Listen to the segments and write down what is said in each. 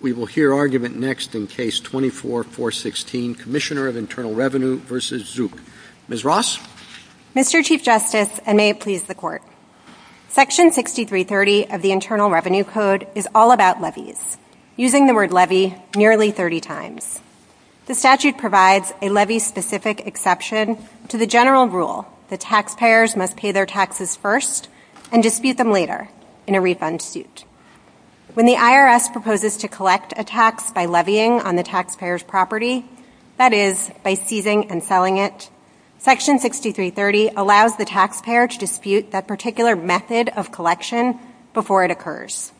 We will hear argument next in Case 24-416, Commissioner of Internal Revenue v. Zuch. Ms. Ross? Mr. Chief Justice, and may it please the Court, Section 6330 of the Internal Revenue Code is all about levies, using the word levy nearly 30 times. The statute provides a levy-specific exception to the general rule that taxpayers must pay their taxes first and dispute them later in a refund suit. When the IRS proposes to collect a tax by levying on the taxpayer's property, that is, by seizing and selling it, Section 6330 allows the taxpayer to dispute that particular method of collection before it occurs.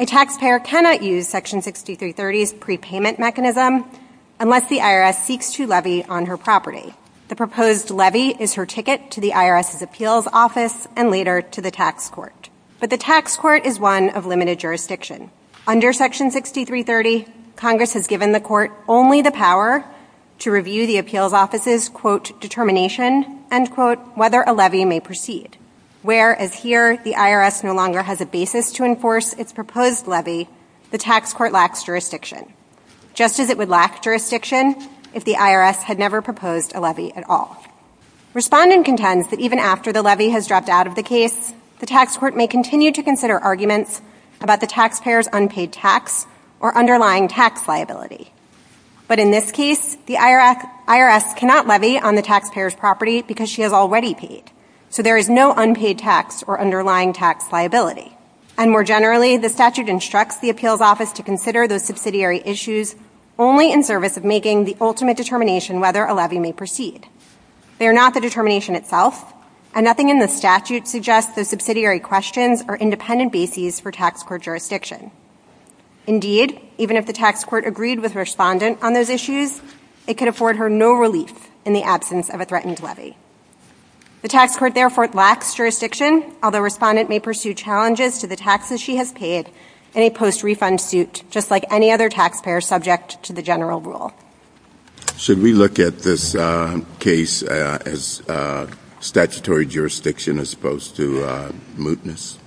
A taxpayer cannot use Section 6330's prepayment mechanism unless the IRS seeks to levy on her property. The proposed levy is her ticket to the IRS's appeals office and later to the tax court. But the tax court is one of limited jurisdiction. Under Section 6330, Congress has given the Court only the power to review the appeals office's, quote, determination, end quote, whether a levy may proceed, whereas here the IRS no longer has a basis to enforce its proposed levy, the tax court lacks jurisdiction, just as it would lack jurisdiction if the IRS had never proposed a levy at all. Respondent contends that even after the levy has dropped out of the case, the tax court may continue to consider arguments about the taxpayer's unpaid tax or underlying tax liability. But in this case, the IRS cannot levy on the taxpayer's property because she has already paid, so there is no unpaid tax or underlying tax liability. And more generally, the statute instructs the appeals office to consider those issues only in service of making the ultimate determination whether a levy may proceed. They are not the determination itself, and nothing in the statute suggests those subsidiary questions are independent bases for tax court jurisdiction. Indeed, even if the tax court agreed with respondent on those issues, it could afford her no relief in the absence of a threatened levy. The tax court therefore lacks jurisdiction, although respondent may pursue challenges to the she has paid in a post-refund suit, just like any other taxpayer subject to the general rule. Should we look at this case as statutory jurisdiction as opposed to mootness?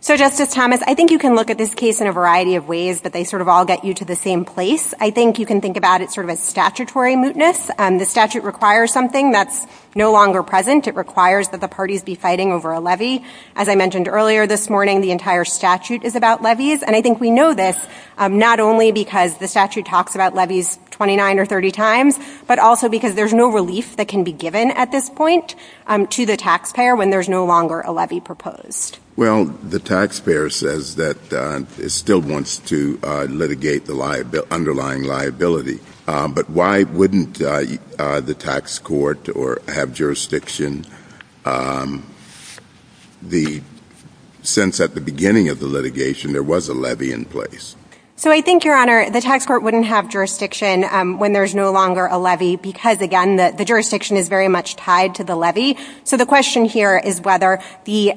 So Justice Thomas, I think you can look at this case in a variety of ways, but they sort of all get you to the same place. I think you can think about it sort of as statutory mootness. The statute requires something that's no longer present. It requires that the parties be fighting over a levy. As I mentioned earlier this morning, the entire statute is about levies, and I think we know this not only because the statute talks about levies 29 or 30 times, but also because there's no relief that can be given at this point to the taxpayer when there's no longer a levy proposed. Well, the taxpayer says that it still wants to litigate the underlying liability, but why wouldn't the tax court have jurisdiction since at the beginning of the litigation there was a levy in place? So I think, Your Honor, the tax court wouldn't have jurisdiction when there's no longer a levy because, again, the jurisdiction is very much tied to the levy. So the question here is whether the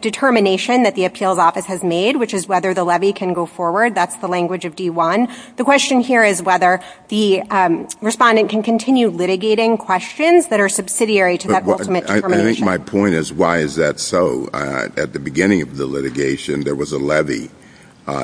determination that the appeals office has made, which is whether the levy can go forward, that's the language of D1. The question here is whether the respondent can continue litigating questions that are subsidiary to that ultimate determination. But I think my point is, why is that so? At the beginning of the litigation there was a levy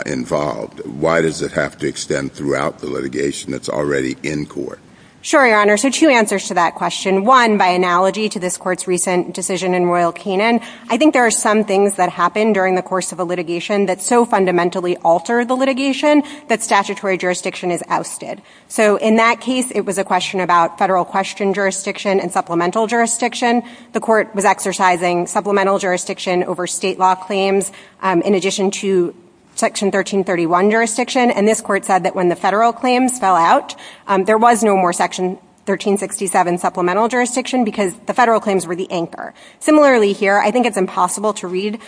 involved. Why does it have to extend throughout the litigation that's already in court? Sure, Your Honor. So two answers to that question. One, by analogy to this court's recent decision in Royal Canin, I think there are some things that happen during the course of a litigation that so fundamentally alter the litigation that statutory jurisdiction is ousted. So in that case, it was a question about federal question jurisdiction and supplemental jurisdiction. The court was exercising supplemental jurisdiction over state law claims in addition to Section 1331 jurisdiction. And this court said that when the federal claims fell out, there was no more Section 1367 supplemental jurisdiction because the federal impossible to read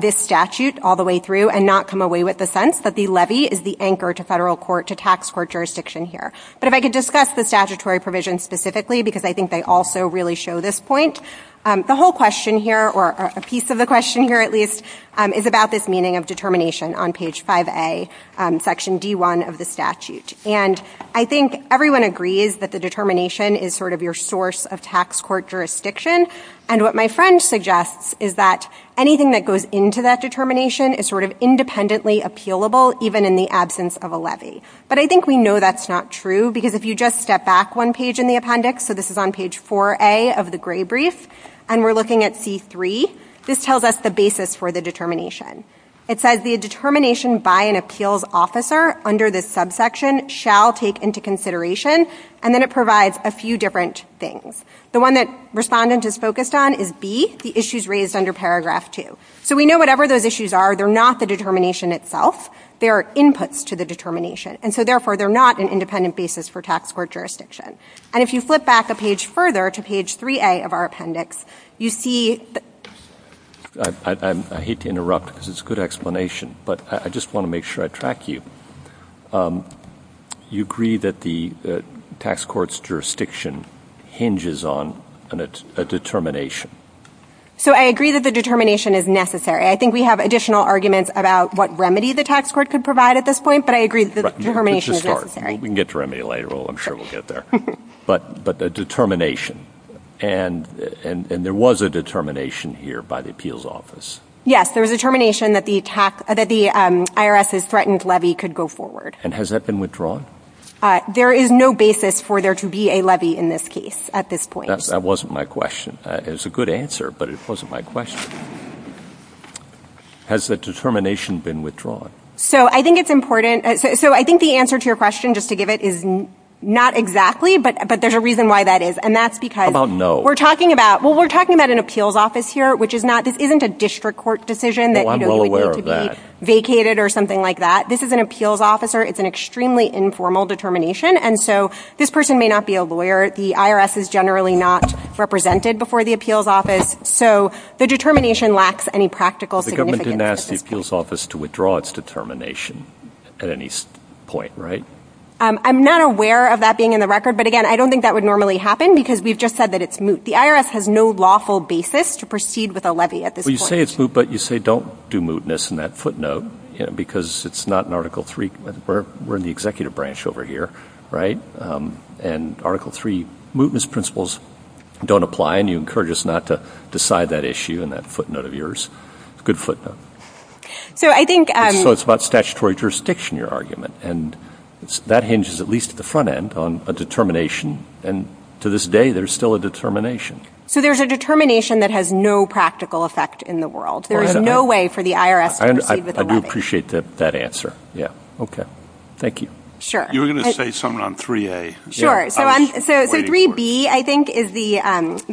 this statute all the way through and not come away with the sense that the levy is the anchor to federal court to tax court jurisdiction here. But if I could discuss the statutory provision specifically, because I think they also really show this point, the whole question here, or a piece of the question here at least, is about this meaning of determination on page 5A, Section D1 of the statute. And I think everyone agrees that the is that anything that goes into that determination is sort of independently appealable even in the absence of a levy. But I think we know that's not true because if you just step back one page in the appendix, so this is on page 4A of the gray brief, and we're looking at C3, this tells us the basis for the determination. It says the determination by an appeals officer under this subsection shall take into consideration, and then it provides a few different things. The one that respondent is focused on is B, the issues raised under Paragraph 2. So we know whatever those issues are, they're not the determination itself. They're inputs to the determination. And so therefore they're not an independent basis for tax court jurisdiction. And if you flip back a page further to page 3A of our appendix, you see... I hate to interrupt because it's a good explanation, but I just want to make sure I track you. You agree that the tax court's jurisdiction hinges on a determination. So I agree that the determination is necessary. I think we have additional arguments about what remedy the tax court could provide at this point, but I agree that the determination is necessary. We can get to remedy later. I'm sure we'll get there. But the determination, and there was a determination here by the appeals office. Yes, there was a determination that the IRS's threatened levy could go forward. And has that been withdrawn? There is no basis for there to be a levy in this case at this point. That wasn't my question. It was a good answer, but it wasn't my question. Has the determination been withdrawn? So I think it's important. So I think the answer to your question, just to give it, is not exactly, but there's a reason why that is. And that's because... How about no? Well, we're talking about an appeals office here, which is not, this isn't a district court decision that you would need to be vacated or something like that. This is an appeals officer. It's an extremely informal determination. And so this person may not be a lawyer. The IRS is generally not represented before the appeals office. So the determination lacks any practical significance. The government didn't ask the appeals office to withdraw its determination at any point, right? I'm not aware of that being in the record. But again, I don't think that would normally happen because we've just said that it's moot. The IRS has no lawful basis to proceed with a levy at this point. Well, you say it's moot, but you say don't do mootness in that footnote, because it's not in Article III. We're in the executive branch over here, right? And Article III mootness principles don't apply. And you encourage us not to decide that issue in that footnote of yours. It's a good footnote. So I think... So it's about statutory jurisdiction, your argument. And that hinges, at least at the end of the day, there's still a determination. So there's a determination that has no practical effect in the world. There is no way for the IRS to proceed with a levy. I do appreciate that answer. Yeah. Okay. Thank you. Sure. You were going to say something on 3A. Sure. So 3B, I think, is the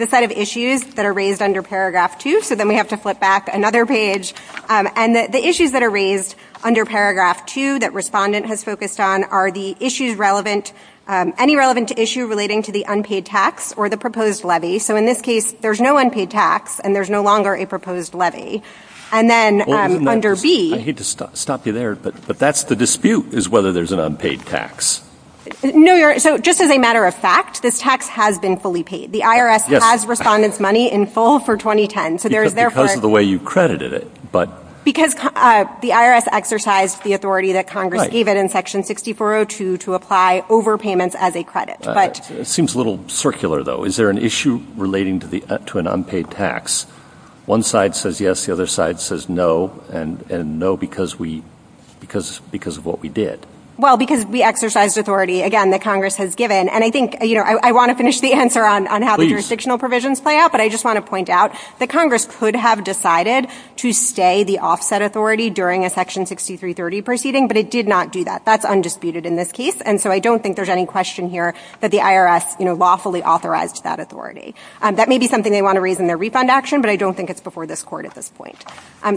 set of issues that are raised under Paragraph 2. So then we have to flip back another page. And the issues that are raised under Paragraph 2 that Respondent has focused on are the issues relevant, any relevant issue relating to the unpaid tax or the proposed levy. So in this case, there's no unpaid tax, and there's no longer a proposed levy. And then under B... I hate to stop you there, but that's the dispute, is whether there's an unpaid tax. No, you're... So just as a matter of fact, this tax has been fully paid. The IRS has Respondent's money in full for 2010. So there is therefore... Because of the way you credited it, but... The IRS exercised the authority that Congress gave it in Section 6402 to apply overpayments as a credit, but... It seems a little circular, though. Is there an issue relating to an unpaid tax? One side says yes, the other side says no, and no because of what we did. Well, because we exercised authority, again, that Congress has given. And I want to finish the answer on how the jurisdictional provisions play out, but I just want to point out that Congress could have decided to stay the offset authority during a Section 6330 proceeding, but it did not do that. That's undisputed in this case. And so I don't think there's any question here that the IRS lawfully authorized that authority. That may be something they want to raise in their refund action, but I don't think it's before this court at this point.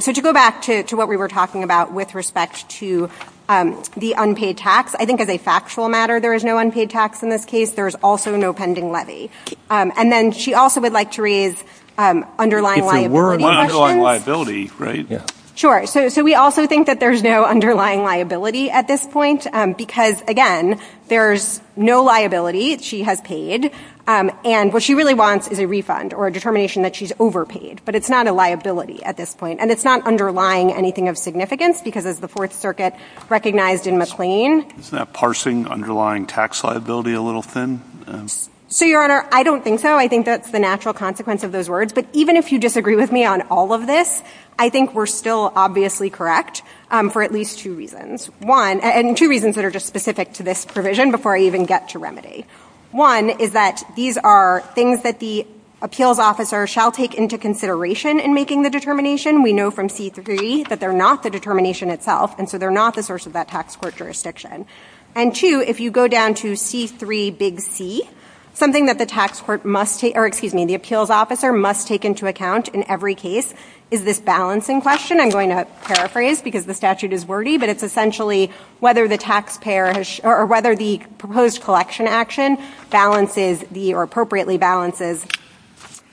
So to go back to what we were talking about with respect to the unpaid tax, I think as a factual matter, there is no unpaid tax in this case. There's also no pending levy. And then she also would like to raise underlying liability questions. So we're on underlying liability, right? Yeah. Sure. So we also think that there's no underlying liability at this point because, again, there's no liability she has paid. And what she really wants is a refund or a determination that she's overpaid, but it's not a liability at this point. And it's not underlying anything of significance because as the Fourth Circuit recognized in McLean. Isn't that parsing underlying tax liability a little thin? So, Your Honor, I don't think so. I think that's the natural consequence of those words. But even if you disagree with me on all of this, I think we're still obviously correct for at least two reasons. One, and two reasons that are just specific to this provision before I even get to remedy. One is that these are things that the appeals officer shall take into consideration in making the determination. We know from C3 that they're not the determination itself. And so they're not the source of that tax court jurisdiction. And two, if you go down to C3 big C, something that the appeals officer must take into account in every case is this balancing question. I'm going to paraphrase because the statute is wordy, but it's essentially whether the proposed collection action appropriately balances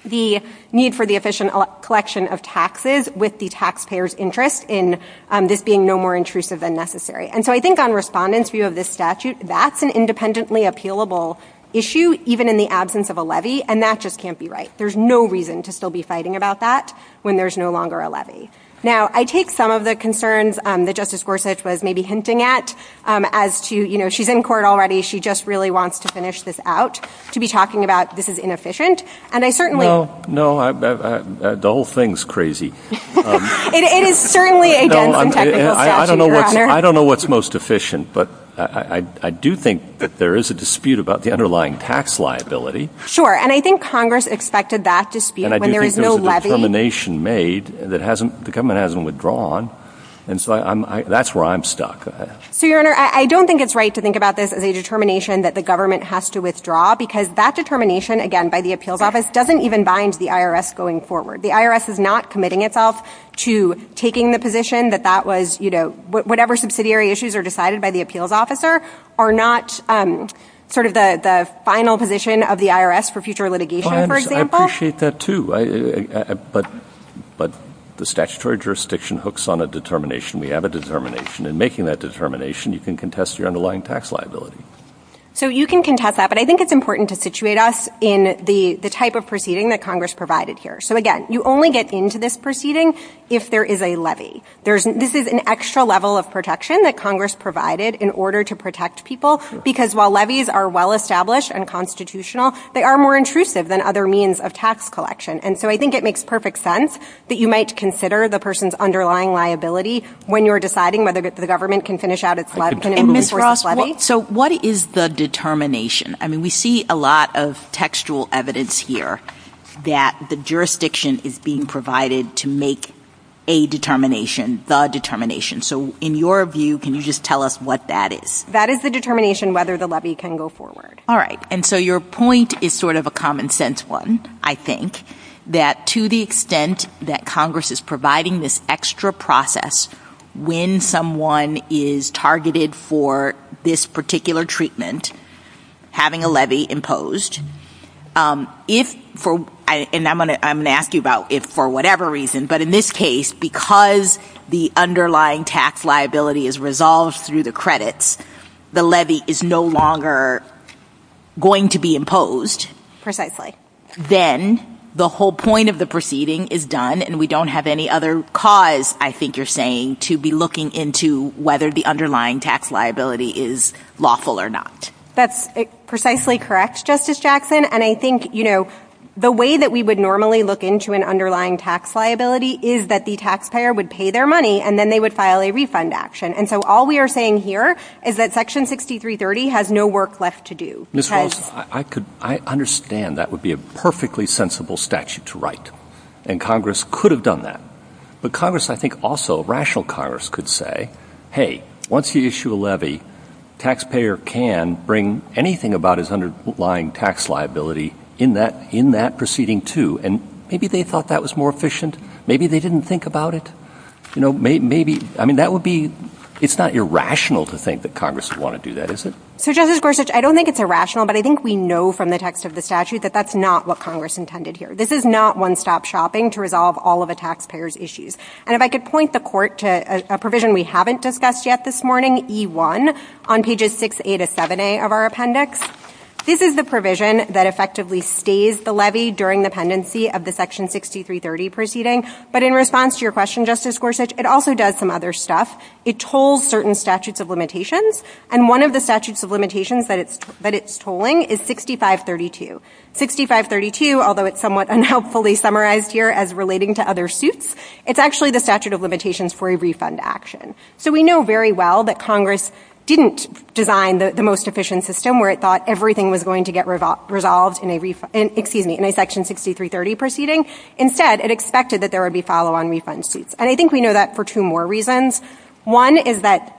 the need for the efficient collection of taxes with the taxpayer's interest in this being no more intrusive than necessary. And so I think on respondents' view of this statute, that's an independently appealable issue, even in the absence of a levy. And that just can't be right. There's no reason to still be fighting about that when there's no longer a levy. Now, I take some of the concerns that Justice Gorsuch was maybe hinting at as to, you know, she's in court already. She just really wants to finish this out, to be talking about this is inefficient. And I certainly... No, no. The whole thing's crazy. It is certainly a dense and technical statute, Your Honor. I don't know what's most efficient, but I do think that there is a dispute about the underlying tax liability. Sure. And I think Congress expected that dispute when there is no levy. And I do think there was a determination made that the government hasn't withdrawn. And so that's where I'm stuck. So, Your Honor, I don't think it's right to think about this as a determination that the government has to withdraw because that determination, again, by the appeals office, doesn't even bind the IRS going forward. The IRS is not committing itself to taking the position that that was, you know, whatever subsidiary issues are decided by the appeals officer are not sort of the final position of the IRS for future litigation, for example. I appreciate that too. But the statutory jurisdiction hooks on a determination. We have a determination. In making that determination, you can contest your underlying tax liability. So you can contest that. But I think it's important to situate us in the type of proceeding that Congress provided here. So again, you only get into this proceeding if there is a levy. This is an extra level of protection that Congress provided in order to protect people because while levies are well-established and constitutional, they are more intrusive than other means of tax collection. And so I think it makes perfect sense that you might consider the person's underlying liability when you're deciding whether the government can finish out its levy. And Ms. Ross, so what is the determination? I mean, we see a lot of textual evidence here that the jurisdiction is being provided to make a determination, the determination. So in your view, can you just tell us what that is? That is the determination whether the levy can go forward. All right. And so your point is sort of a common sense one, I think, that to the extent that Congress is providing this extra process when someone is targeted for this particular treatment, having a levy imposed, if for, and I'm going to ask you about if for whatever reason, but in this case, because the underlying tax liability is resolved through the credits, the levy is no longer going to be imposed. Precisely. Then the whole point of the proceeding is done and we don't have any other cause, I think you're saying, to be looking into whether the underlying tax liability is lawful or not. That's precisely correct, Justice Jackson. And I think, you know, the way that we would normally look into an underlying tax liability is that the taxpayer would pay their money and then they would file a refund action. And so all we are saying here is that section 6330 has no work left to do. Ms. Ross, I could, I understand that would be a perfectly sensible statute to write. And Congress could have done that. But hey, once you issue a levy, taxpayer can bring anything about his underlying tax liability in that proceeding too. And maybe they thought that was more efficient. Maybe they didn't think about it. You know, maybe, I mean, that would be, it's not irrational to think that Congress would want to do that, is it? So Justice Gorsuch, I don't think it's irrational, but I think we know from the text of the statute that that's not what Congress intended here. This is not one-stop shopping to resolve all of a taxpayer's issues. And if I could point the court to a provision we haven't discussed yet this morning, E1, on pages 6A to 7A of our appendix, this is the provision that effectively stays the levy during the pendency of the section 6330 proceeding. But in response to your question, Justice Gorsuch, it also does some other stuff. It tolls certain statutes of limitations. And one of the statutes of limitations that it's tolling is 6532. 6532, although it's somewhat unhelpfully summarized here as relating to other suits, it's actually the statute of limitations for a refund action. So we know very well that Congress didn't design the most efficient system where it thought everything was going to get resolved in a section 6330 proceeding. Instead, it expected that there would be follow-on refund suits. And I think we know that for two more reasons. One is that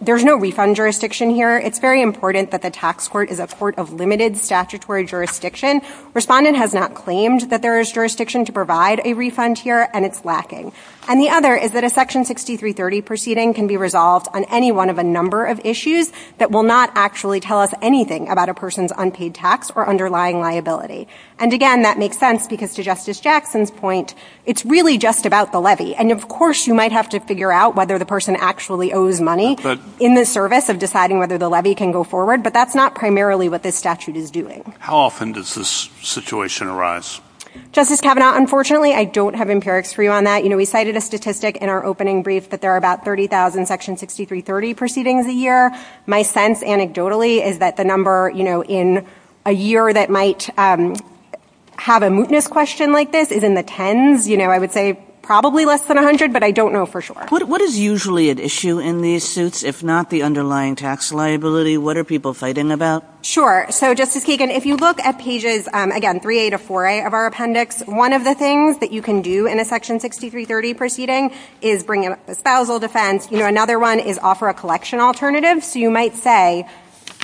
there's no refund jurisdiction here. It's very important that the tax court is a court of limited statutory jurisdiction. Respondent has not claimed that jurisdiction to provide a refund here, and it's lacking. And the other is that a section 6330 proceeding can be resolved on any one of a number of issues that will not actually tell us anything about a person's unpaid tax or underlying liability. And again, that makes sense because to Justice Jackson's point, it's really just about the levy. And of course, you might have to figure out whether the person actually owes money in the service of deciding whether the levy can go forward. But that's not primarily what this statute is doing. How often does this situation arise? Justice Kavanaugh, unfortunately, I don't have empirics for you on that. You know, we cited a statistic in our opening brief that there are about 30,000 section 6330 proceedings a year. My sense anecdotally is that the number, you know, in a year that might have a mootness question like this is in the tens. You know, I would say probably less than 100, but I don't know for sure. What is usually at issue in these suits, if not the underlying tax liability? What are people fighting about? Sure. So Justice Kagan, if you look at pages, again, 3A to 4A of our appendix, one of the things that you can do in a section 6330 proceeding is bring up a spousal defense. You know, another one is offer a collection alternative. So you might say,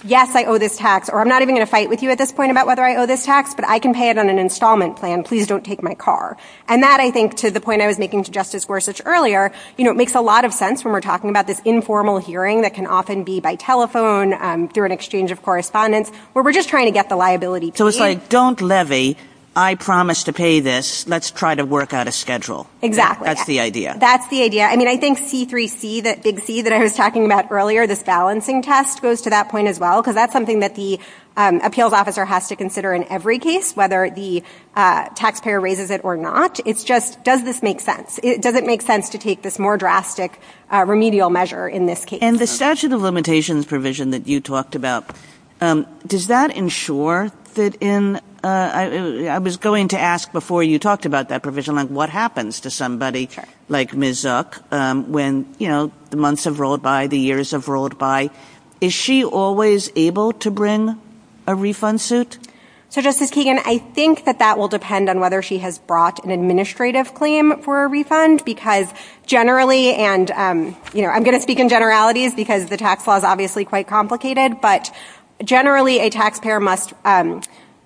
yes, I owe this tax, or I'm not even going to fight with you at this point about whether I owe this tax, but I can pay it on an installment plan. Please don't take my car. And that I think to the point I was making to Justice Gorsuch earlier, you know, it makes a lot of sense when talking about this informal hearing that can often be by telephone, through an exchange of correspondence, where we're just trying to get the liability paid. So it's like, don't levy. I promise to pay this. Let's try to work out a schedule. Exactly. That's the idea. That's the idea. I mean, I think C3C, that big C that I was talking about earlier, this balancing test goes to that point as well, because that's something that the appeals officer has to consider in every case, whether the taxpayer raises it or not. It's just, does this make sense? Does it make sense to take this more drastic remedial measure in this case? And the statute of limitations provision that you talked about, does that ensure that in, I was going to ask before you talked about that provision, what happens to somebody like Ms. Zook when, you know, the months have rolled by, the years have rolled by, is she always able to bring a refund suit? So Justice Kagan, I think that that will depend on whether she has brought an administrative claim for a refund, because generally, and, you know, I'm going to speak in generalities, because the tax law is obviously quite complicated, but generally a taxpayer must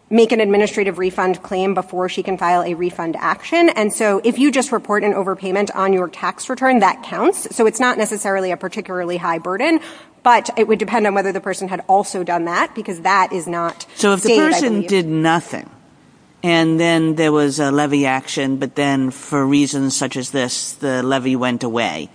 make an administrative refund claim before she can file a refund action. And so if you just report an overpayment on your tax return, that counts. So it's not necessarily a particularly high burden, but it would depend on whether the person had also done that, because that is not So if the person did nothing, and then there was a levy action, but then for reasons such as this, the levy went away,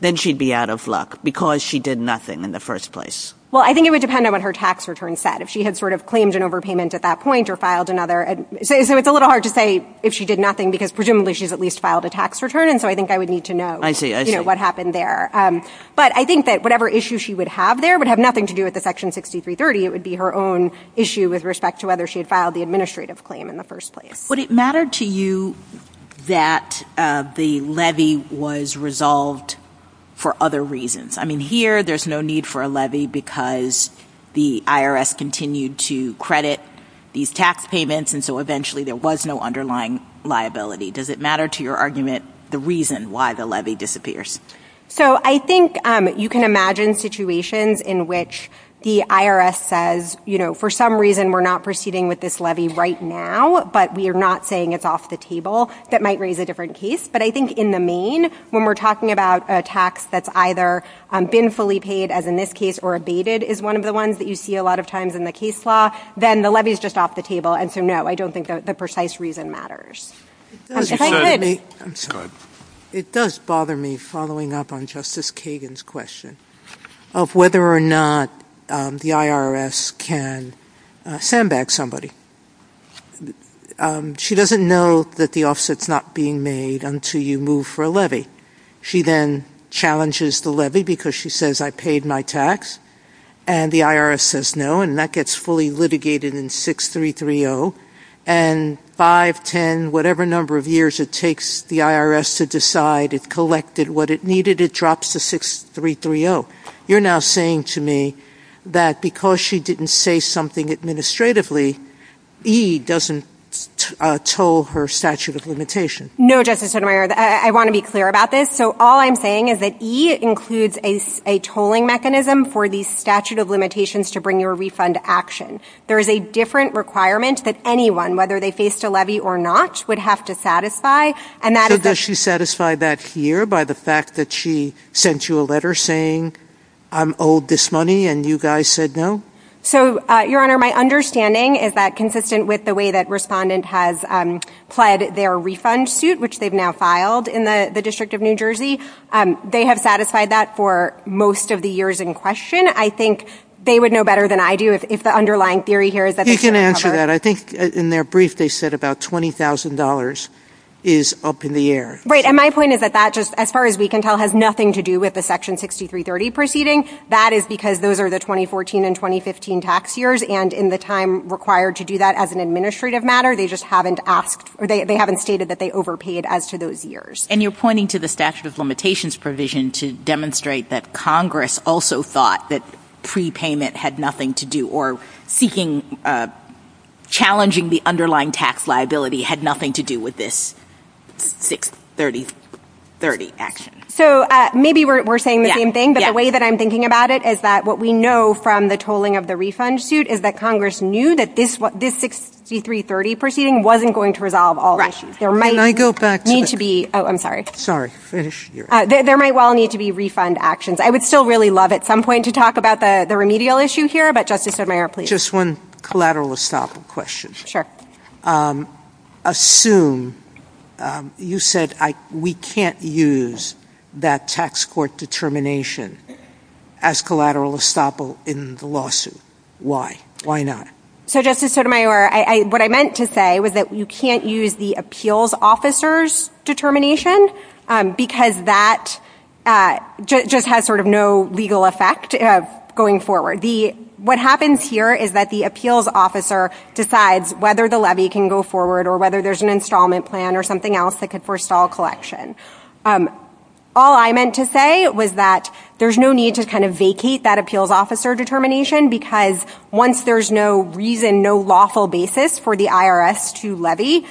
then she'd be out of luck, because she did nothing in the first place. Well, I think it would depend on what her tax return said, if she had sort of claimed an overpayment at that point or filed another. So it's a little hard to say if she did nothing, because presumably she's at least filed a tax return. And so I think I would need to know what happened there. But I think that whatever issue she would have there would have nothing to do with the Section 6330. It would be her own issue with respect to whether she had filed the administrative claim in the first place. Would it matter to you that the levy was resolved for other reasons? I mean, here there's no need for a levy because the IRS continued to credit these tax payments, and so eventually there was no underlying liability. Does it matter to your argument the reason why the levy disappears? So I think you can imagine situations in which the IRS says, you know, for some reason we're not proceeding with this levy right now, but we are not saying it's off the table, that might raise a different case. But I think in the main, when we're talking about a tax that's either been fully paid, as in this case, or abated is one of the ones that you see a lot of times in the case law, then the levy is just off the table. And so, no, I don't think the precise reason matters. If I could. I'm sorry. It does bother me following up on Justice Kagan's question of whether or not the IRS can sandbag somebody. She doesn't know that the offset's not being made until you move for a levy. She then challenges the levy because she says, I paid my tax, and the IRS says no, and that gets fully litigated in 6-3-3-0, and 5, 10, whatever number of years it takes the IRS to decide it collected what it needed, it drops to 6-3-3-0. You're now saying to me that because she didn't say something administratively, E doesn't toll her statute of limitation. No, Justice Sotomayor. I want to be clear about this. So all I'm saying is that E includes a tolling mechanism for the statute of limitations to bring your refund to action. There is a different requirement that anyone, whether they faced a levy or not, would have to satisfy. So does she satisfy that here by the fact that she sent you a letter saying I'm owed this money and you guys said no? So, Your Honor, my understanding is that consistent with the way that Respondent has pled their refund suit, which they've now filed in the District of New Jersey, they have satisfied that for most of the years in question. I think they would know better than I do if the underlying theory here is that they should recover. You can answer that. I think in their brief they said about $20,000 is up in the air. Right. And my point is that that just, as far as we can tell, has nothing to do with the Section 6-3-30 proceeding. That is because those are the 2014 and 2015 tax years, and in the time required to do that as an administrative matter, they just haven't asked or they haven't stated that they overpaid as to those years. And you're pointing to the Statute of Limitations provision to demonstrate that Congress also thought that prepayment had nothing to do or seeking, challenging the underlying tax liability had nothing to do with this 6-3-30 action. So maybe we're saying the same thing, but the way that I'm thinking about it is that what we know from the tolling of the refund suit is that Congress knew that this 6-3-30 proceeding wasn't going to resolve all the issues. Right. And I go back to that. I'm sorry. Sorry. Finish your answer. There might well need to be refund actions. I would still really love at some point to talk about the remedial issue here, but Justice Sotomayor, please. Just one collateral estoppel question. Assume you said we can't use that tax court determination as collateral estoppel in the lawsuit. Why? Why not? So Justice Sotomayor, what I meant to say was that you can't use the appeals officer's determination because that just has sort of no legal effect going forward. What happens here is that the appeals officer decides whether the levy can go forward or whether there's an installment plan or something else that could forestall collection. All I meant to say was that there's no need to kind of vacate that appeals officer determination because once there's no reason, no lawful basis for the IRS to levy,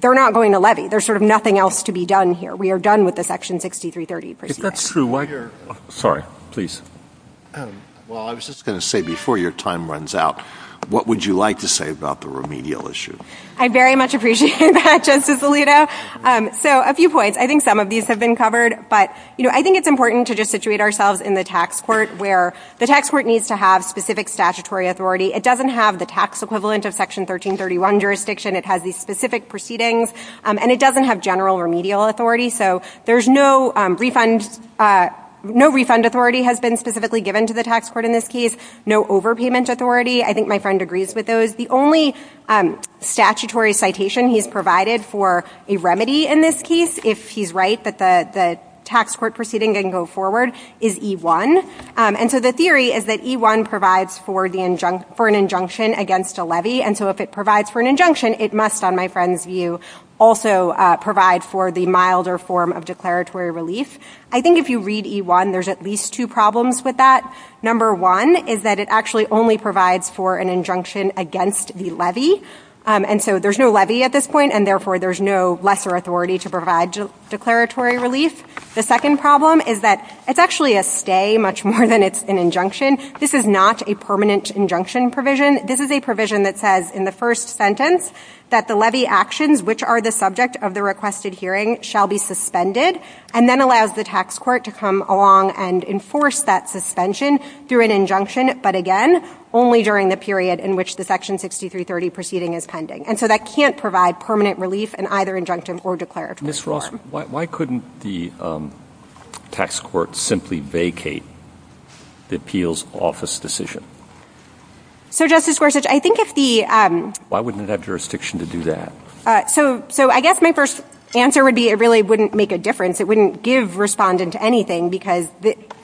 they're not going to levy. There's sort of nothing else to be done here. We are done with the Section 6-3-30 proceeding. If that's true, why? Sorry. Please. Well, I was just going to say before your time runs out, what would you like to say about the remedial issue? I very much appreciate that, Justice Alito. So a few points. I think some of these have been covered, but I think it's important to just situate ourselves in the tax court where the tax court needs to have specific statutory authority. It doesn't have the tax equivalent of Section 1331 jurisdiction. It has these specific proceedings, and it doesn't have general remedial authority. So there's no refund. No refund authority has been specifically given to the tax court in this case. No overpayment authority. I think my friend agrees with those. The only statutory citation he's provided for a remedy in this case, if he's right, that the tax court proceeding can go forward is E-1. And so the theory is that E-1 provides for an injunction against a levy. And so if it provides for an injunction, it must, on my friend's view, also provide for the milder form of declaratory relief. I think if you read E-1, there's at least two problems with that. Number one is that it actually only provides for an injunction against the levy. And so there's no levy at this point, and therefore there's no lesser authority to provide declaratory relief. The second problem is that it's actually a stay much more than it's an injunction. This is not a permanent injunction provision. This is a provision that says in the first sentence that the levy actions which are the subject of the requested hearing shall be suspended, and then allows the tax court to come along and enforce that suspension through an injunction, but again, only during the period in which the Section 6330 proceeding is pending. And so that can't provide permanent relief in either injunctive or declarative Ms. Ross, why couldn't the tax court simply vacate the appeals office decision? So Justice Gorsuch, I think if the... Why wouldn't it have jurisdiction to do that? So I guess my first answer would be it really wouldn't make a difference. It wouldn't give respondent anything because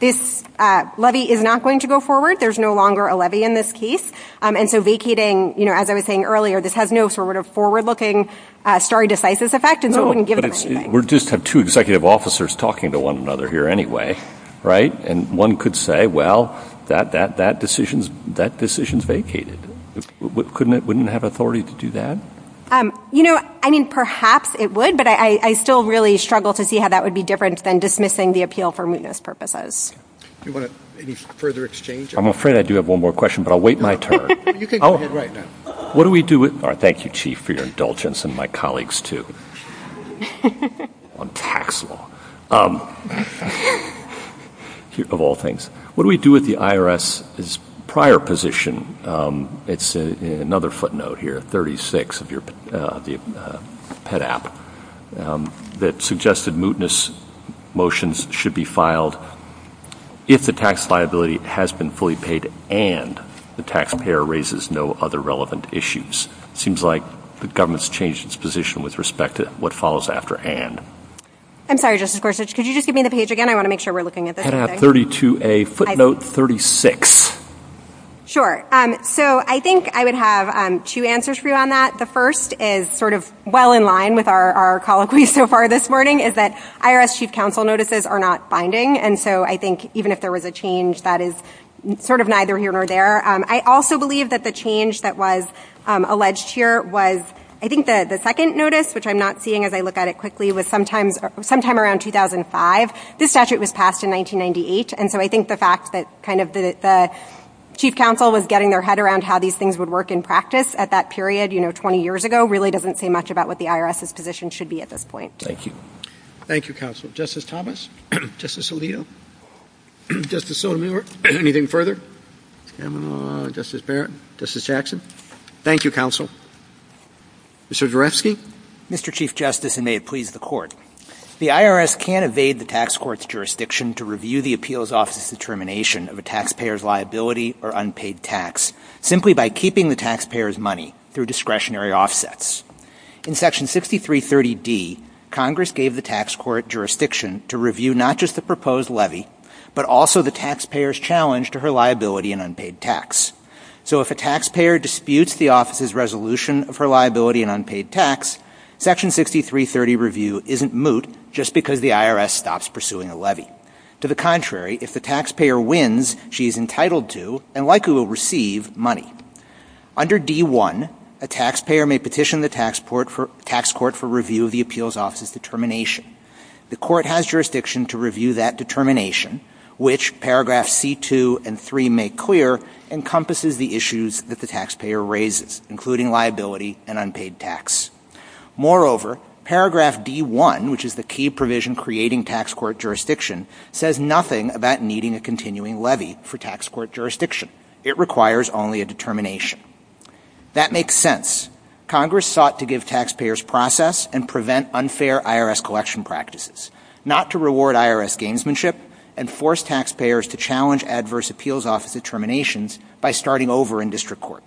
this levy is not going to go forward. There's no longer a levy in this case. And so vacating, you know, as I was saying earlier, this has no sort of forward looking stare decisis effect, and so it wouldn't give them anything. We just have two executive officers talking to one another here anyway, right? And one could say, well, that decision's vacated. Couldn't it... Wouldn't it have authority to do that? You know, I mean, perhaps it would, but I still really struggle to see how that would be different than dismissing the appeal for mootness purposes. Do you want any further exchange? I'm afraid I do have one more question, but I'll wait my turn. You can go ahead right now. What do we do with... Thank you, Chief, for your indulgence, and my colleagues, too, on tax law, of all things. What do we do with the IRS's prior position? It's another footnote here, 36 of the PEDAP, that suggested mootness motions should be filed if the tax liability has been fully paid and the taxpayer raises no other relevant issues. It seems like the government's changed its position with respect to what follows after and. I'm sorry, Justice Gorsuch. Could you just give me the page again? I want to make sure we're looking at the same thing. PEDAP 32A, footnote 36. Sure. So I think I would have two answers for you on that. The first is sort of well in line with our colloquy so far this morning, is that IRS chief counsel notices are not binding, and so I think even if there was a change, that is sort of neither here nor there. I also believe that the change that was alleged here was, I think the second notice, which I'm not seeing as I look at it quickly, was sometime around 2005. This statute was passed in 1998, and so I think the fact that kind of the chief counsel was getting their head around how these things would work in practice at that period 20 years ago really doesn't say much about what the IRS's position should be at this point. Thank you. Thank you, counsel. Justice Thomas? Justice Alito? Justice Sotomayor? Anything further? Justice Barrett? Justice Jackson? Thank you, counsel. Mr. Derefsky? Mr. Chief Justice, and may it please the Court, the IRS can evade the tax court's jurisdiction to review the appeals office's determination of a taxpayer's liability or unpaid tax simply by keeping the taxpayer's money through discretionary offsets. In section 6330D, Congress gave the tax court jurisdiction to review not just the liability and unpaid tax. So if a taxpayer disputes the office's resolution of her liability and unpaid tax, section 6330 review isn't moot just because the IRS stops pursuing a levy. To the contrary, if the taxpayer wins, she is entitled to and likely will receive money. Under D.1, a taxpayer may petition the tax court for review of the appeals office's determination. The court has jurisdiction to review that determination, which paragraphs C.2 and 3 make clear encompasses the issues that the taxpayer raises, including liability and unpaid tax. Moreover, paragraph D.1, which is the key provision creating tax court jurisdiction, says nothing about needing a continuing levy for tax court jurisdiction. It requires only a determination. That makes sense. Congress sought to give taxpayers process and prevent unfair IRS collection practices, not to reward IRS gamesmanship and force taxpayers to challenge adverse appeals office determinations by starting over in district court.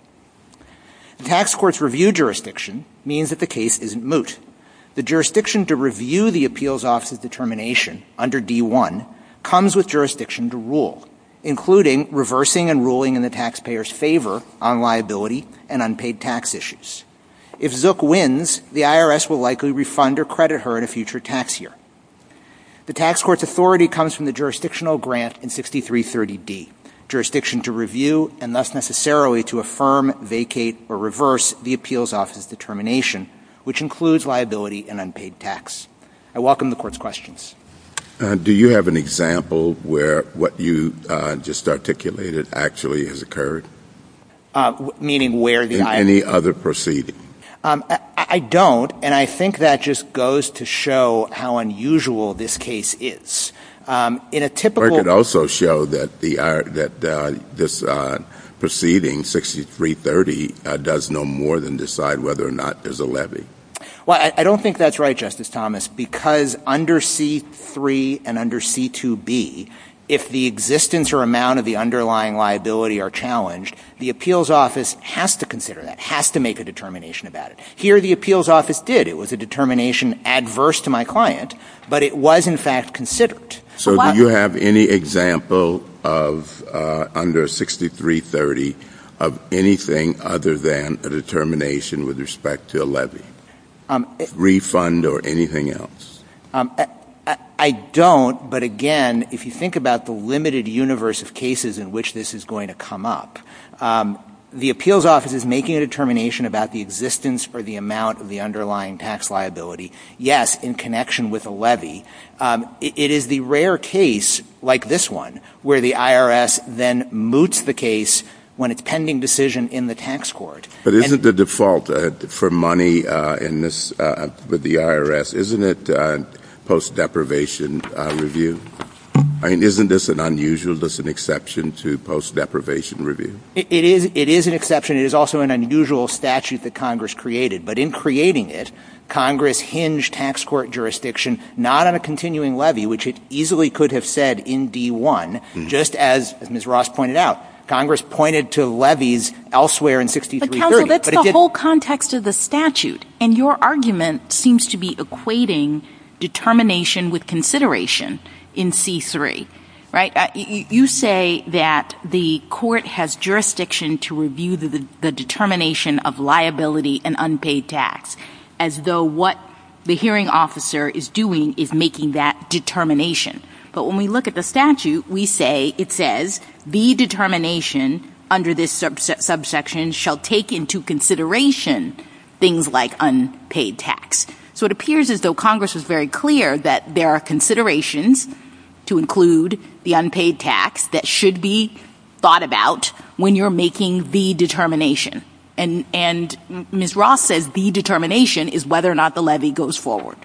The tax court's review jurisdiction means that the case isn't moot. The jurisdiction to review the appeals office's determination under D.1 comes with jurisdiction to rule, including reversing and ruling in the taxpayer's favor on liability and unpaid tax issues. If Zook wins, the IRS will likely refund or credit her in a future tax year. The tax court's authority comes from the jurisdictional grant in 6330D. Jurisdiction to review, and thus necessarily to affirm, vacate, or reverse the appeals office's determination, which includes liability and unpaid tax. I welcome the Court's questions. Do you have an example where what you just articulated actually has occurred? Meaning where the IRS? In any other proceeding. I don't. And I think that just goes to show how unusual this case is. In a typical- This proceeding, 6330, does no more than decide whether or not there's a levy. Well, I don't think that's right, Justice Thomas. Because under C-3 and under C-2B, if the existence or amount of the underlying liability are challenged, the appeals office has to consider that, has to make a determination about it. Here, the appeals office did. It was a determination adverse to my client, but it was, in fact, considered. So do you have any example of, under 6330, of anything other than a determination with respect to a levy, refund or anything else? I don't. But again, if you think about the limited universe of cases in which this is going to come up, the appeals office is making a determination about the existence for the amount of the underlying tax liability, yes, in connection with a levy. It is the rare case, like this one, where the IRS then moots the case when it's pending decision in the tax court. But isn't the default for money in this, with the IRS, isn't it post-deprivation review? I mean, isn't this an unusual, is this an exception to post-deprivation review? It is an exception. It is also an unusual statute that Congress created. But in creating it, Congress hinged tax court jurisdiction not on a continuing levy, which it easily could have said in D-1, just as Ms. Ross pointed out. Congress pointed to levies elsewhere in 6330. But counsel, that's the whole context of the statute. And your argument seems to be equating determination with consideration in C-3, right? You say that the court has jurisdiction to review the determination of liability and unpaid tax, as though what the hearing officer is doing is making that determination. But when we look at the statute, we say, it says, the determination under this subsection shall take into consideration things like unpaid tax. So it appears as though Congress was very clear that there are considerations to include the unpaid tax that should be thought about when you're making the determination. And Ms. Ross says the determination is whether or not the levy goes forward.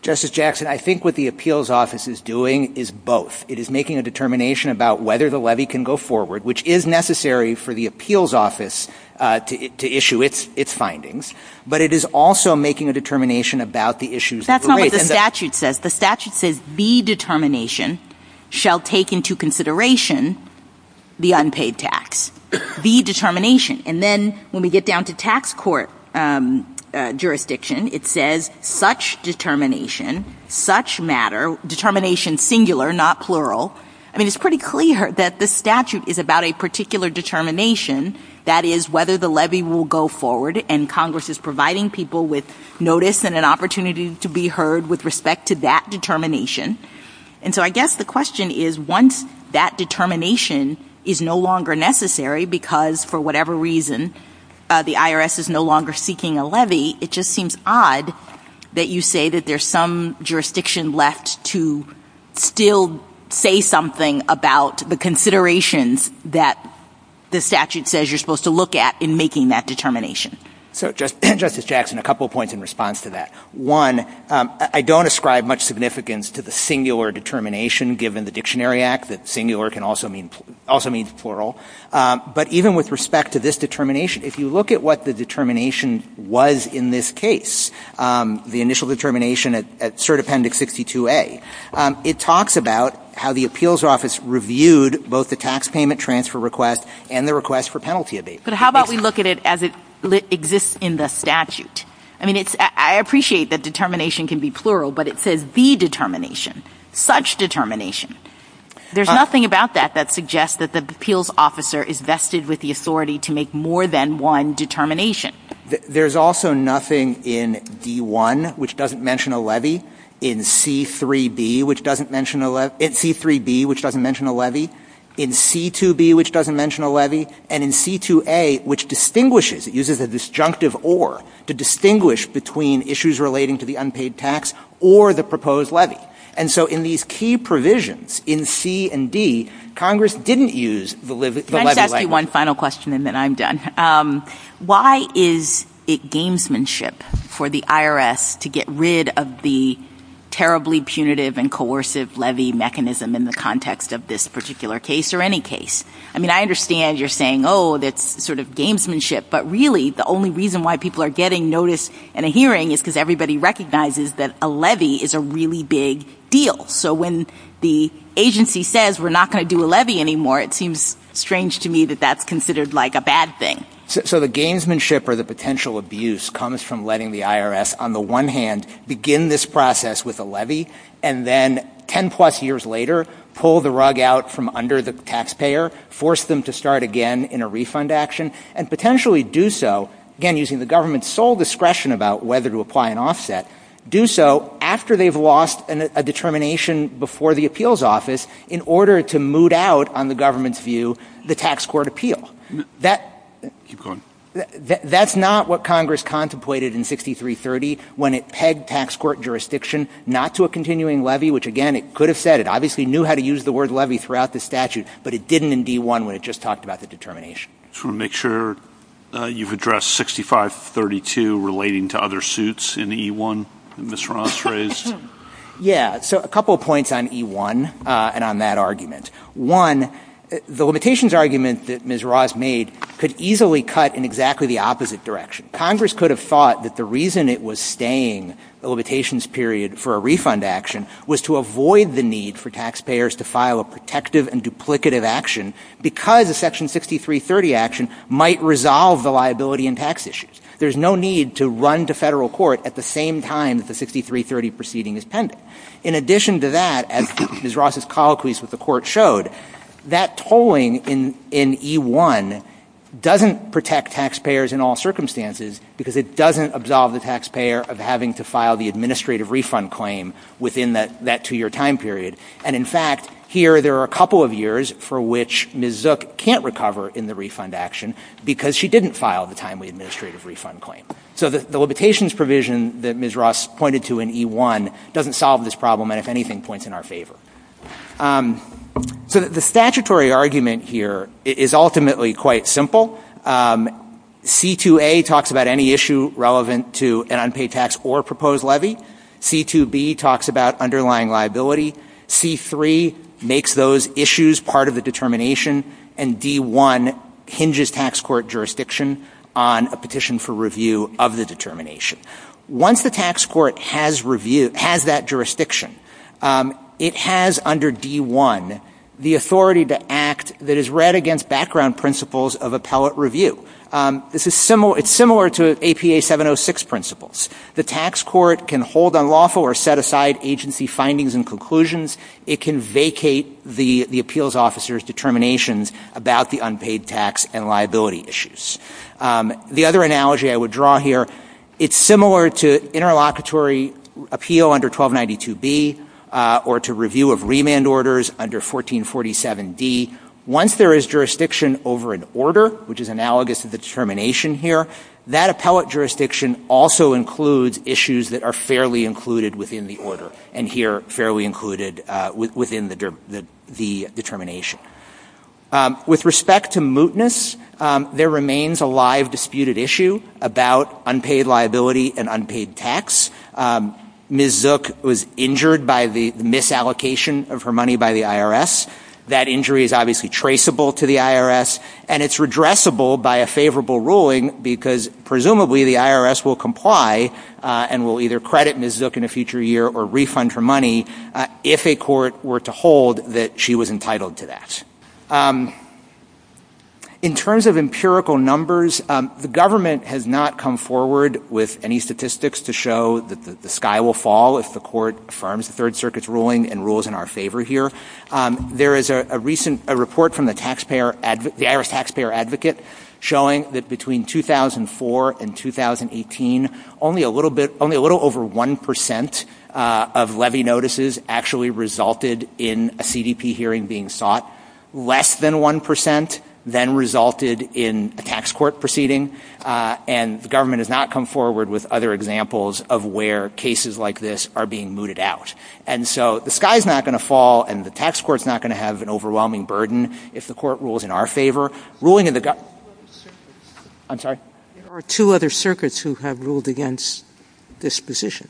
Justice Jackson, I think what the appeals office is doing is both. It is making a determination about whether the levy can go forward, which is necessary for the appeals office to issue its findings. But it is also making a determination about the issues of the rate. That's not what the statute says. The statute says the determination shall take into consideration the unpaid tax. The determination. And then when we get down to tax court jurisdiction, it says such determination, such matter, determination singular, not plural. I mean, it's pretty clear that the statute is about a particular determination. That is, whether the levy will go forward. And Congress is providing people with notice and an opportunity to be heard with respect to that determination. And so I guess the question is, once that determination is no longer necessary because for whatever reason, the IRS is no longer seeking a levy, it just seems odd that you say that there's some jurisdiction left to still say something about the considerations that the statute says you're supposed to look at in making that determination. So Justice Jackson, a couple of points in response to that. One, I don't ascribe much significance to the singular determination, given the Dictionary Act, that singular can also mean plural. But even with respect to this determination, if you look at what the determination was in this case, the initial determination at Cert Appendix 62A, it talks about how the appeals office reviewed both the tax payment transfer request and the request for penalty abatement. But how about we look at it as it exists in the statute? I mean, I appreciate that determination can be plural, but it says the determination, such determination. There's nothing about that that suggests that the appeals officer is vested with the authority to make more than one determination. There's also nothing in D1, which doesn't mention a levy, in C3B, which doesn't mention a levy, in C2B, which doesn't mention a levy, and in C2A, which distinguishes, it uses a disjunctive or, to distinguish between issues relating to the unpaid tax or the proposed levy. And so in these key provisions in C and D, Congress didn't use the levy language. Can I just ask you one final question and then I'm done? Why is it gamesmanship for the IRS to get rid of the terribly punitive and coercive levy mechanism in the context of this particular case or any case? I mean, I understand you're saying, oh, that's sort of gamesmanship. But really, the only reason why people are getting notice in a hearing is because everybody recognizes that a levy is a really big deal. So when the agency says we're not going to do a levy anymore, it seems strange to me that that's considered like a bad thing. So the gamesmanship or the potential abuse comes from letting the IRS, on the one hand, begin this process with a levy, and then 10 plus years later, pull the rug out from under the taxpayer, force them to start again in a refund action, and potentially do so, again, using the government's sole discretion about whether to apply an offset, do so after they've lost a determination before the appeals office in order to moot out, on the government's view, the tax court appeal. That's not what Congress contemplated in 6330 when it pegged tax court jurisdiction not to a continuing levy, which, again, it could have said. It obviously knew how to use the word levy throughout the statute, but it didn't in D-1 when it just talked about the determination. MR. MILLER Just want to make sure you've addressed 6532 relating to other suits in E-1 that Ms. Ross raised. CLEMENT Yeah. So a couple of points on E-1 and on that argument. One, the limitations argument that Ms. Ross made could easily cut in exactly the opposite direction. Congress could have thought that the reason it was staying the limitations period for a refund action was to avoid the need for taxpayers to file a protective and duplicative action because a Section 6330 action might resolve the liability and tax issues. There's no need to run to Federal court at the same time that the 6330 proceeding is pending. In addition to that, as Ms. Ross' colloquies with the Court showed, that tolling in E-1 doesn't protect taxpayers in all circumstances because it doesn't absolve the taxpayer of having to file the administrative refund claim within that two-year time period. And in fact, here there are a couple of years for which Ms. Zook can't recover in the refund action because she didn't file the timely administrative refund claim. So the limitations provision that Ms. Ross pointed to in E-1 doesn't solve this problem and, if anything, points in our favor. So the statutory argument here is ultimately quite simple. C-2A talks about any issue relevant to an unpaid tax or proposed levy. C-2B talks about underlying liability. C-3 makes those issues part of the determination. And D-1 hinges tax court jurisdiction on a petition for review of the determination. Once the tax court has review – has that jurisdiction, it has under D-1 the authority to act that is read against background principles of appellate review. This is similar – it's similar to APA 706 principles. The tax court can hold unlawful or set-aside agency findings and conclusions. It can vacate the appeals officer's determinations about the unpaid tax and liability issues. The other analogy I would draw here, it's similar to interlocutory appeal under 1292 B or to review of remand orders under 1447 D. Once there is jurisdiction over an order, which is analogous to the determination here, that appellate jurisdiction also includes issues that are fairly included within the order and here fairly included within the determination. With respect to mootness, there remains a live disputed issue about unpaid liability and unpaid tax. Ms. Zook was injured by the misallocation of her money by the IRS. That injury is obviously traceable to the IRS and it's redressable by a favorable ruling because presumably the IRS will comply and will either credit Ms. Zook in a future year or refund her money if a court were to hold that she was entitled to that. In terms of empirical numbers, the government has not come forward with any statistics to show that the sky will fall if the court affirms the Third Circuit's ruling and rules in our favor here. There is a recent report from the IRS taxpayer advocate showing that between 2004 and 2018, only a little over 1% of levy notices actually resulted in a CDP hearing being sought. Less than 1% then resulted in a tax court proceeding and the government has not come forward with other examples of where cases like this are being mooted out. And so the sky's not going to fall and the tax court's not going to have an overwhelming burden if the court rules in our favor. Ruling in the government... I'm sorry? There are two other circuits who have ruled against this position.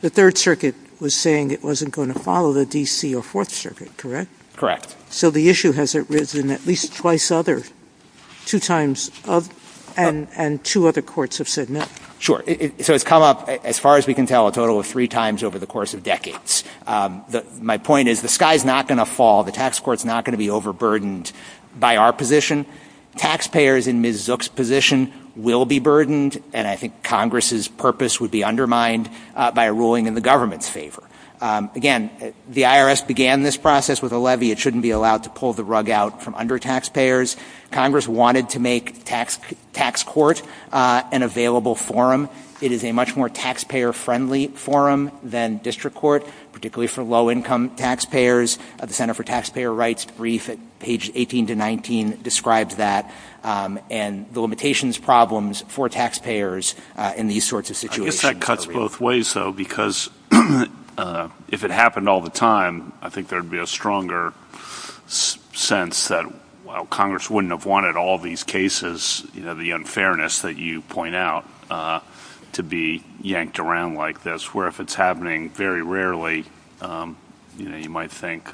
The Third Circuit was saying it wasn't going to follow the D.C. or Fourth Circuit, correct? Correct. So the issue has arisen at least twice other, two times other, and two other courts have said no. Sure. So it's come up, as far as we can tell, a total of three times over the course of decades. My point is the sky's not going to fall. The tax court's not going to be overburdened by our position. Taxpayers in Ms. Zook's position will be burdened and I think Congress's purpose would be undermined by a ruling in the government's favor. Again, the IRS began this process with a levy. It shouldn't be allowed to pull the rug out from under taxpayers. Congress wanted to make tax court an available forum. It is a much more taxpayer-friendly forum than district court, particularly for low-income taxpayers. The Center for Taxpayer Rights brief at page 18 to 19 describes that and the limitations problems for taxpayers in these sorts of situations. I guess that cuts both ways, though, because if it happened all the time, I think there is a stronger sense that while Congress wouldn't have wanted all these cases, the unfairness that you point out, to be yanked around like this, where if it's happening very rarely, you might think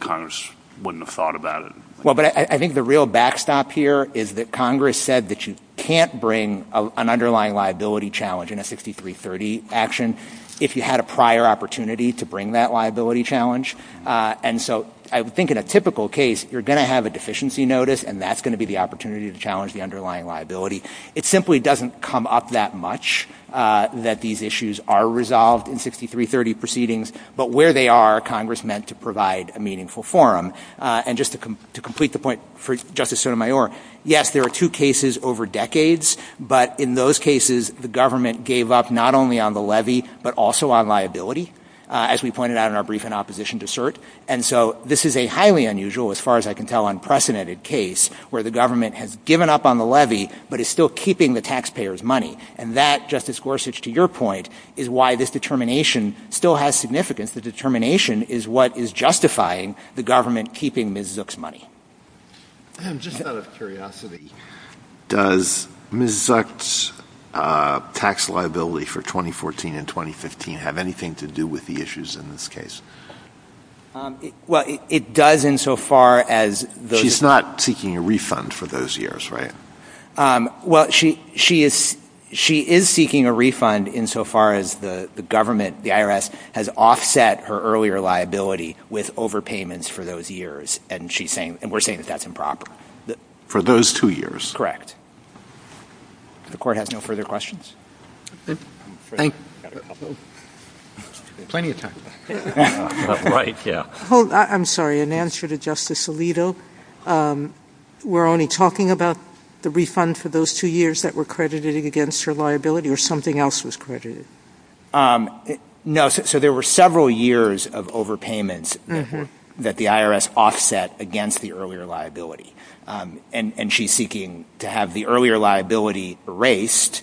Congress wouldn't have thought about it. Well, but I think the real backstop here is that Congress said that you can't bring an underlying liability challenge in a 6330 action if you had a prior opportunity to bring that liability challenge. And so I think in a typical case, you're going to have a deficiency notice, and that's going to be the opportunity to challenge the underlying liability. It simply doesn't come up that much, that these issues are resolved in 6330 proceedings, but where they are, Congress meant to provide a meaningful forum. And just to complete the point for Justice Sotomayor, yes, there are two cases over decades, but in those cases, the government gave up not only on the levy, but also on liability. As we pointed out in our brief in opposition to cert, and so this is a highly unusual, as far as I can tell, unprecedented case where the government has given up on the levy, but is still keeping the taxpayers' money. And that, Justice Gorsuch, to your point, is why this determination still has significance. The determination is what is justifying the government keeping Ms. Zook's money. I'm just out of curiosity, does Ms. Zook's tax liability for 2014 and 2015 have anything to do with the issues in this case? Well, it does insofar as those... She's not seeking a refund for those years, right? Well, she is seeking a refund insofar as the government, the IRS, has offset her earlier liability with overpayments for those years, and we're saying that that's improper. For those two years? Correct. If the court has no further questions? Thank you. Plenty of time. Right, yeah. Hold, I'm sorry, in answer to Justice Alito, we're only talking about the refund for those two years that were credited against her liability, or something else was credited? No, so there were several years of overpayments that the IRS offset against the earlier liability, and she's seeking to have the earlier liability erased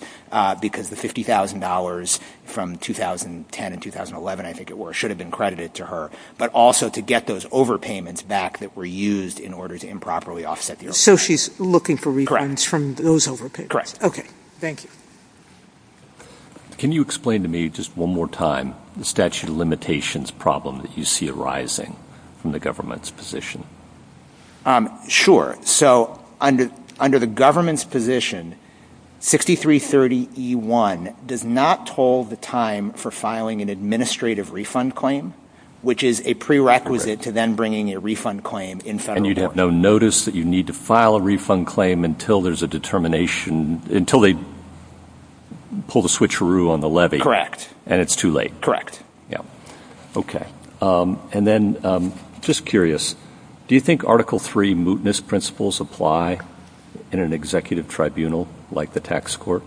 because the $50,000 from 2010 and 2011, I think it were, should have been credited to her, but also to get those overpayments back that were used in order to improperly offset the overpayments. So she's looking for refunds from those overpayments? Correct. Okay, thank you. Can you explain to me just one more time the statute of limitations problem that you see arising from the government's position? Sure. So under the government's position, 6330E1 does not toll the time for filing an administrative refund claim, which is a prerequisite to then bringing a refund claim in federal court. No notice that you need to file a refund claim until there's a determination, until they pull the switcheroo on the levy. And it's too late. Yeah. Okay. And then, just curious, do you think Article III mootness principles apply in an executive tribunal like the tax court?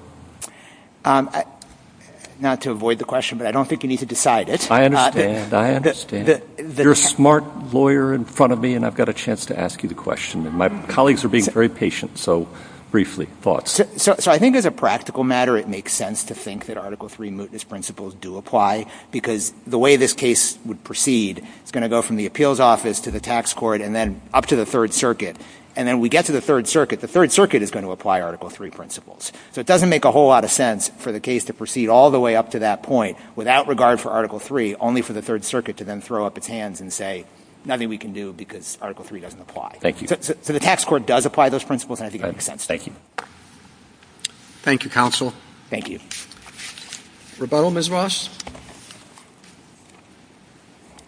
Not to avoid the question, but I don't think you need to decide it. I understand. I understand. You're a smart lawyer in front of me, and I've got a chance to ask you the question. My colleagues are being very patient, so briefly, thoughts. So I think as a practical matter, it makes sense to think that Article III mootness principles do apply, because the way this case would proceed, it's going to go from the appeals office to the tax court, and then up to the Third Circuit. And then we get to the Third Circuit, the Third Circuit is going to apply Article III principles. So it doesn't make a whole lot of sense for the case to proceed all the way up to that point, without regard for Article III, only for the Third Circuit to then throw up its hands and say, nothing we can do because Article III doesn't apply. Thank you. So the tax court does apply those principles, and I think it makes sense. Thank you. Thank you, counsel. Thank you. Rebuttal, Ms. Ross?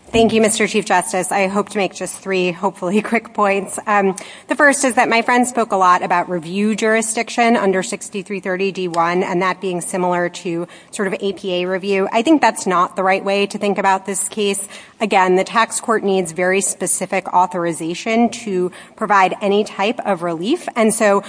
Thank you, Mr. Chief Justice. I hope to make just three, hopefully, quick points. The first is that my friend spoke a lot about review jurisdiction under 6330 D1, and that being similar to sort of APA review. I think that's not the right way to think about this case. Again, the tax court needs very specific authorization to provide any type of relief. And so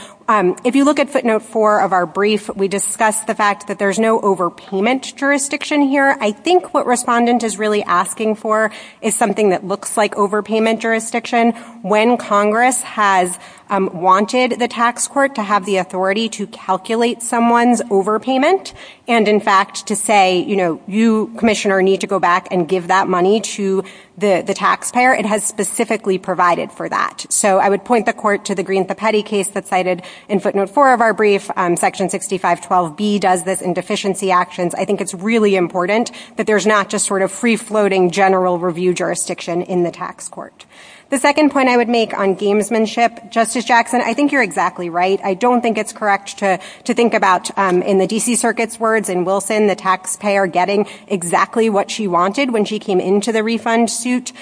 if you look at footnote four of our brief, we discuss the fact that there's no overpayment jurisdiction here. I think what Respondent is really asking for is something that looks like overpayment jurisdiction. When Congress has wanted the tax court to have the authority to calculate someone's overpayment and, in fact, to say, you know, you, Commissioner, need to go back and give that money to the taxpayer, it has specifically provided for that. So I would point the court to the Green-Thepeddy case that's cited in footnote four of our brief. Section 6512B does this in deficiency actions. I think it's really important that there's not just sort of free-floating general review jurisdiction in the tax court. The second point I would make on gamesmanship, Justice Jackson, I think you're exactly right. I don't think it's correct to think about, in the D.C. Circuit's words, in Wilson, the taxpayer getting exactly what she wanted when she came into the refund suit,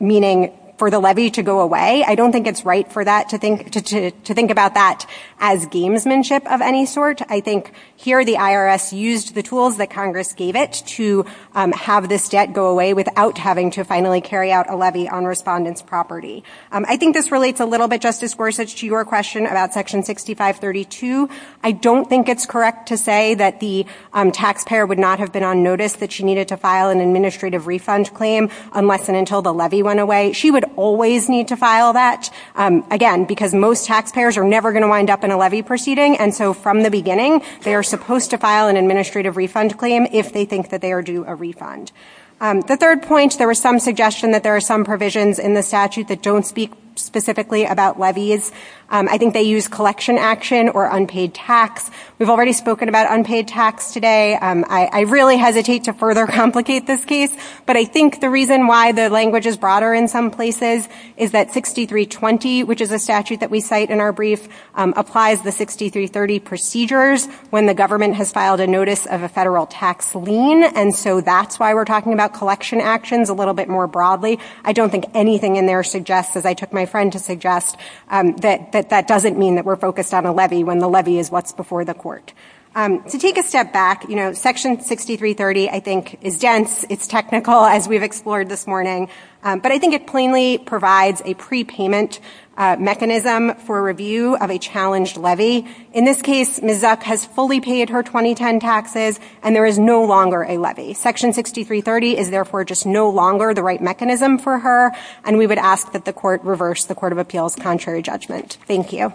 meaning for the levy to go away. I don't think it's right for that to think about that as gamesmanship of any sort. I think here the IRS used the tools that Congress gave it to have this debt go away without having to finally carry out a levy on respondent's property. I think this relates a little bit, Justice Gorsuch, to your question about section 6532. I don't think it's correct to say that the taxpayer would not have been on notice that she needed to file an administrative refund claim unless and until the levy went away. She would always need to file that, again, because most taxpayers are never going to wind up in a levy proceeding, and so from the beginning, they are supposed to file an administrative refund claim if they think that they are due a refund. The third point, there was some suggestion that there are some provisions in the statute that don't speak specifically about levies. I think they use collection action or unpaid tax. We've already spoken about unpaid tax today. I really hesitate to further complicate this case, but I think the reason why the language is broader in some places is that 6320, which is a statute that we cite in our brief, applies the 6330 procedures when the government has filed a notice of a federal tax lien, and so that's why we're talking about collection actions a little bit more broadly. I don't think anything in there suggests, as I took my friend to suggest, that that doesn't mean that we're focused on a levy when the levy is what's before the court. To take a step back, you know, section 6330, I think, is dense, it's technical, as we've explored this morning, but I think it plainly provides a prepayment mechanism for review of a challenged levy. In this case, Ms. Zuck has fully paid her 2010 taxes, and there is no longer a levy. Section 6330 is therefore just no longer the right mechanism for her, and we would ask that the court reverse the Court of Appeals' contrary judgment. Thank you.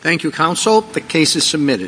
Thank you, counsel. The case is submitted.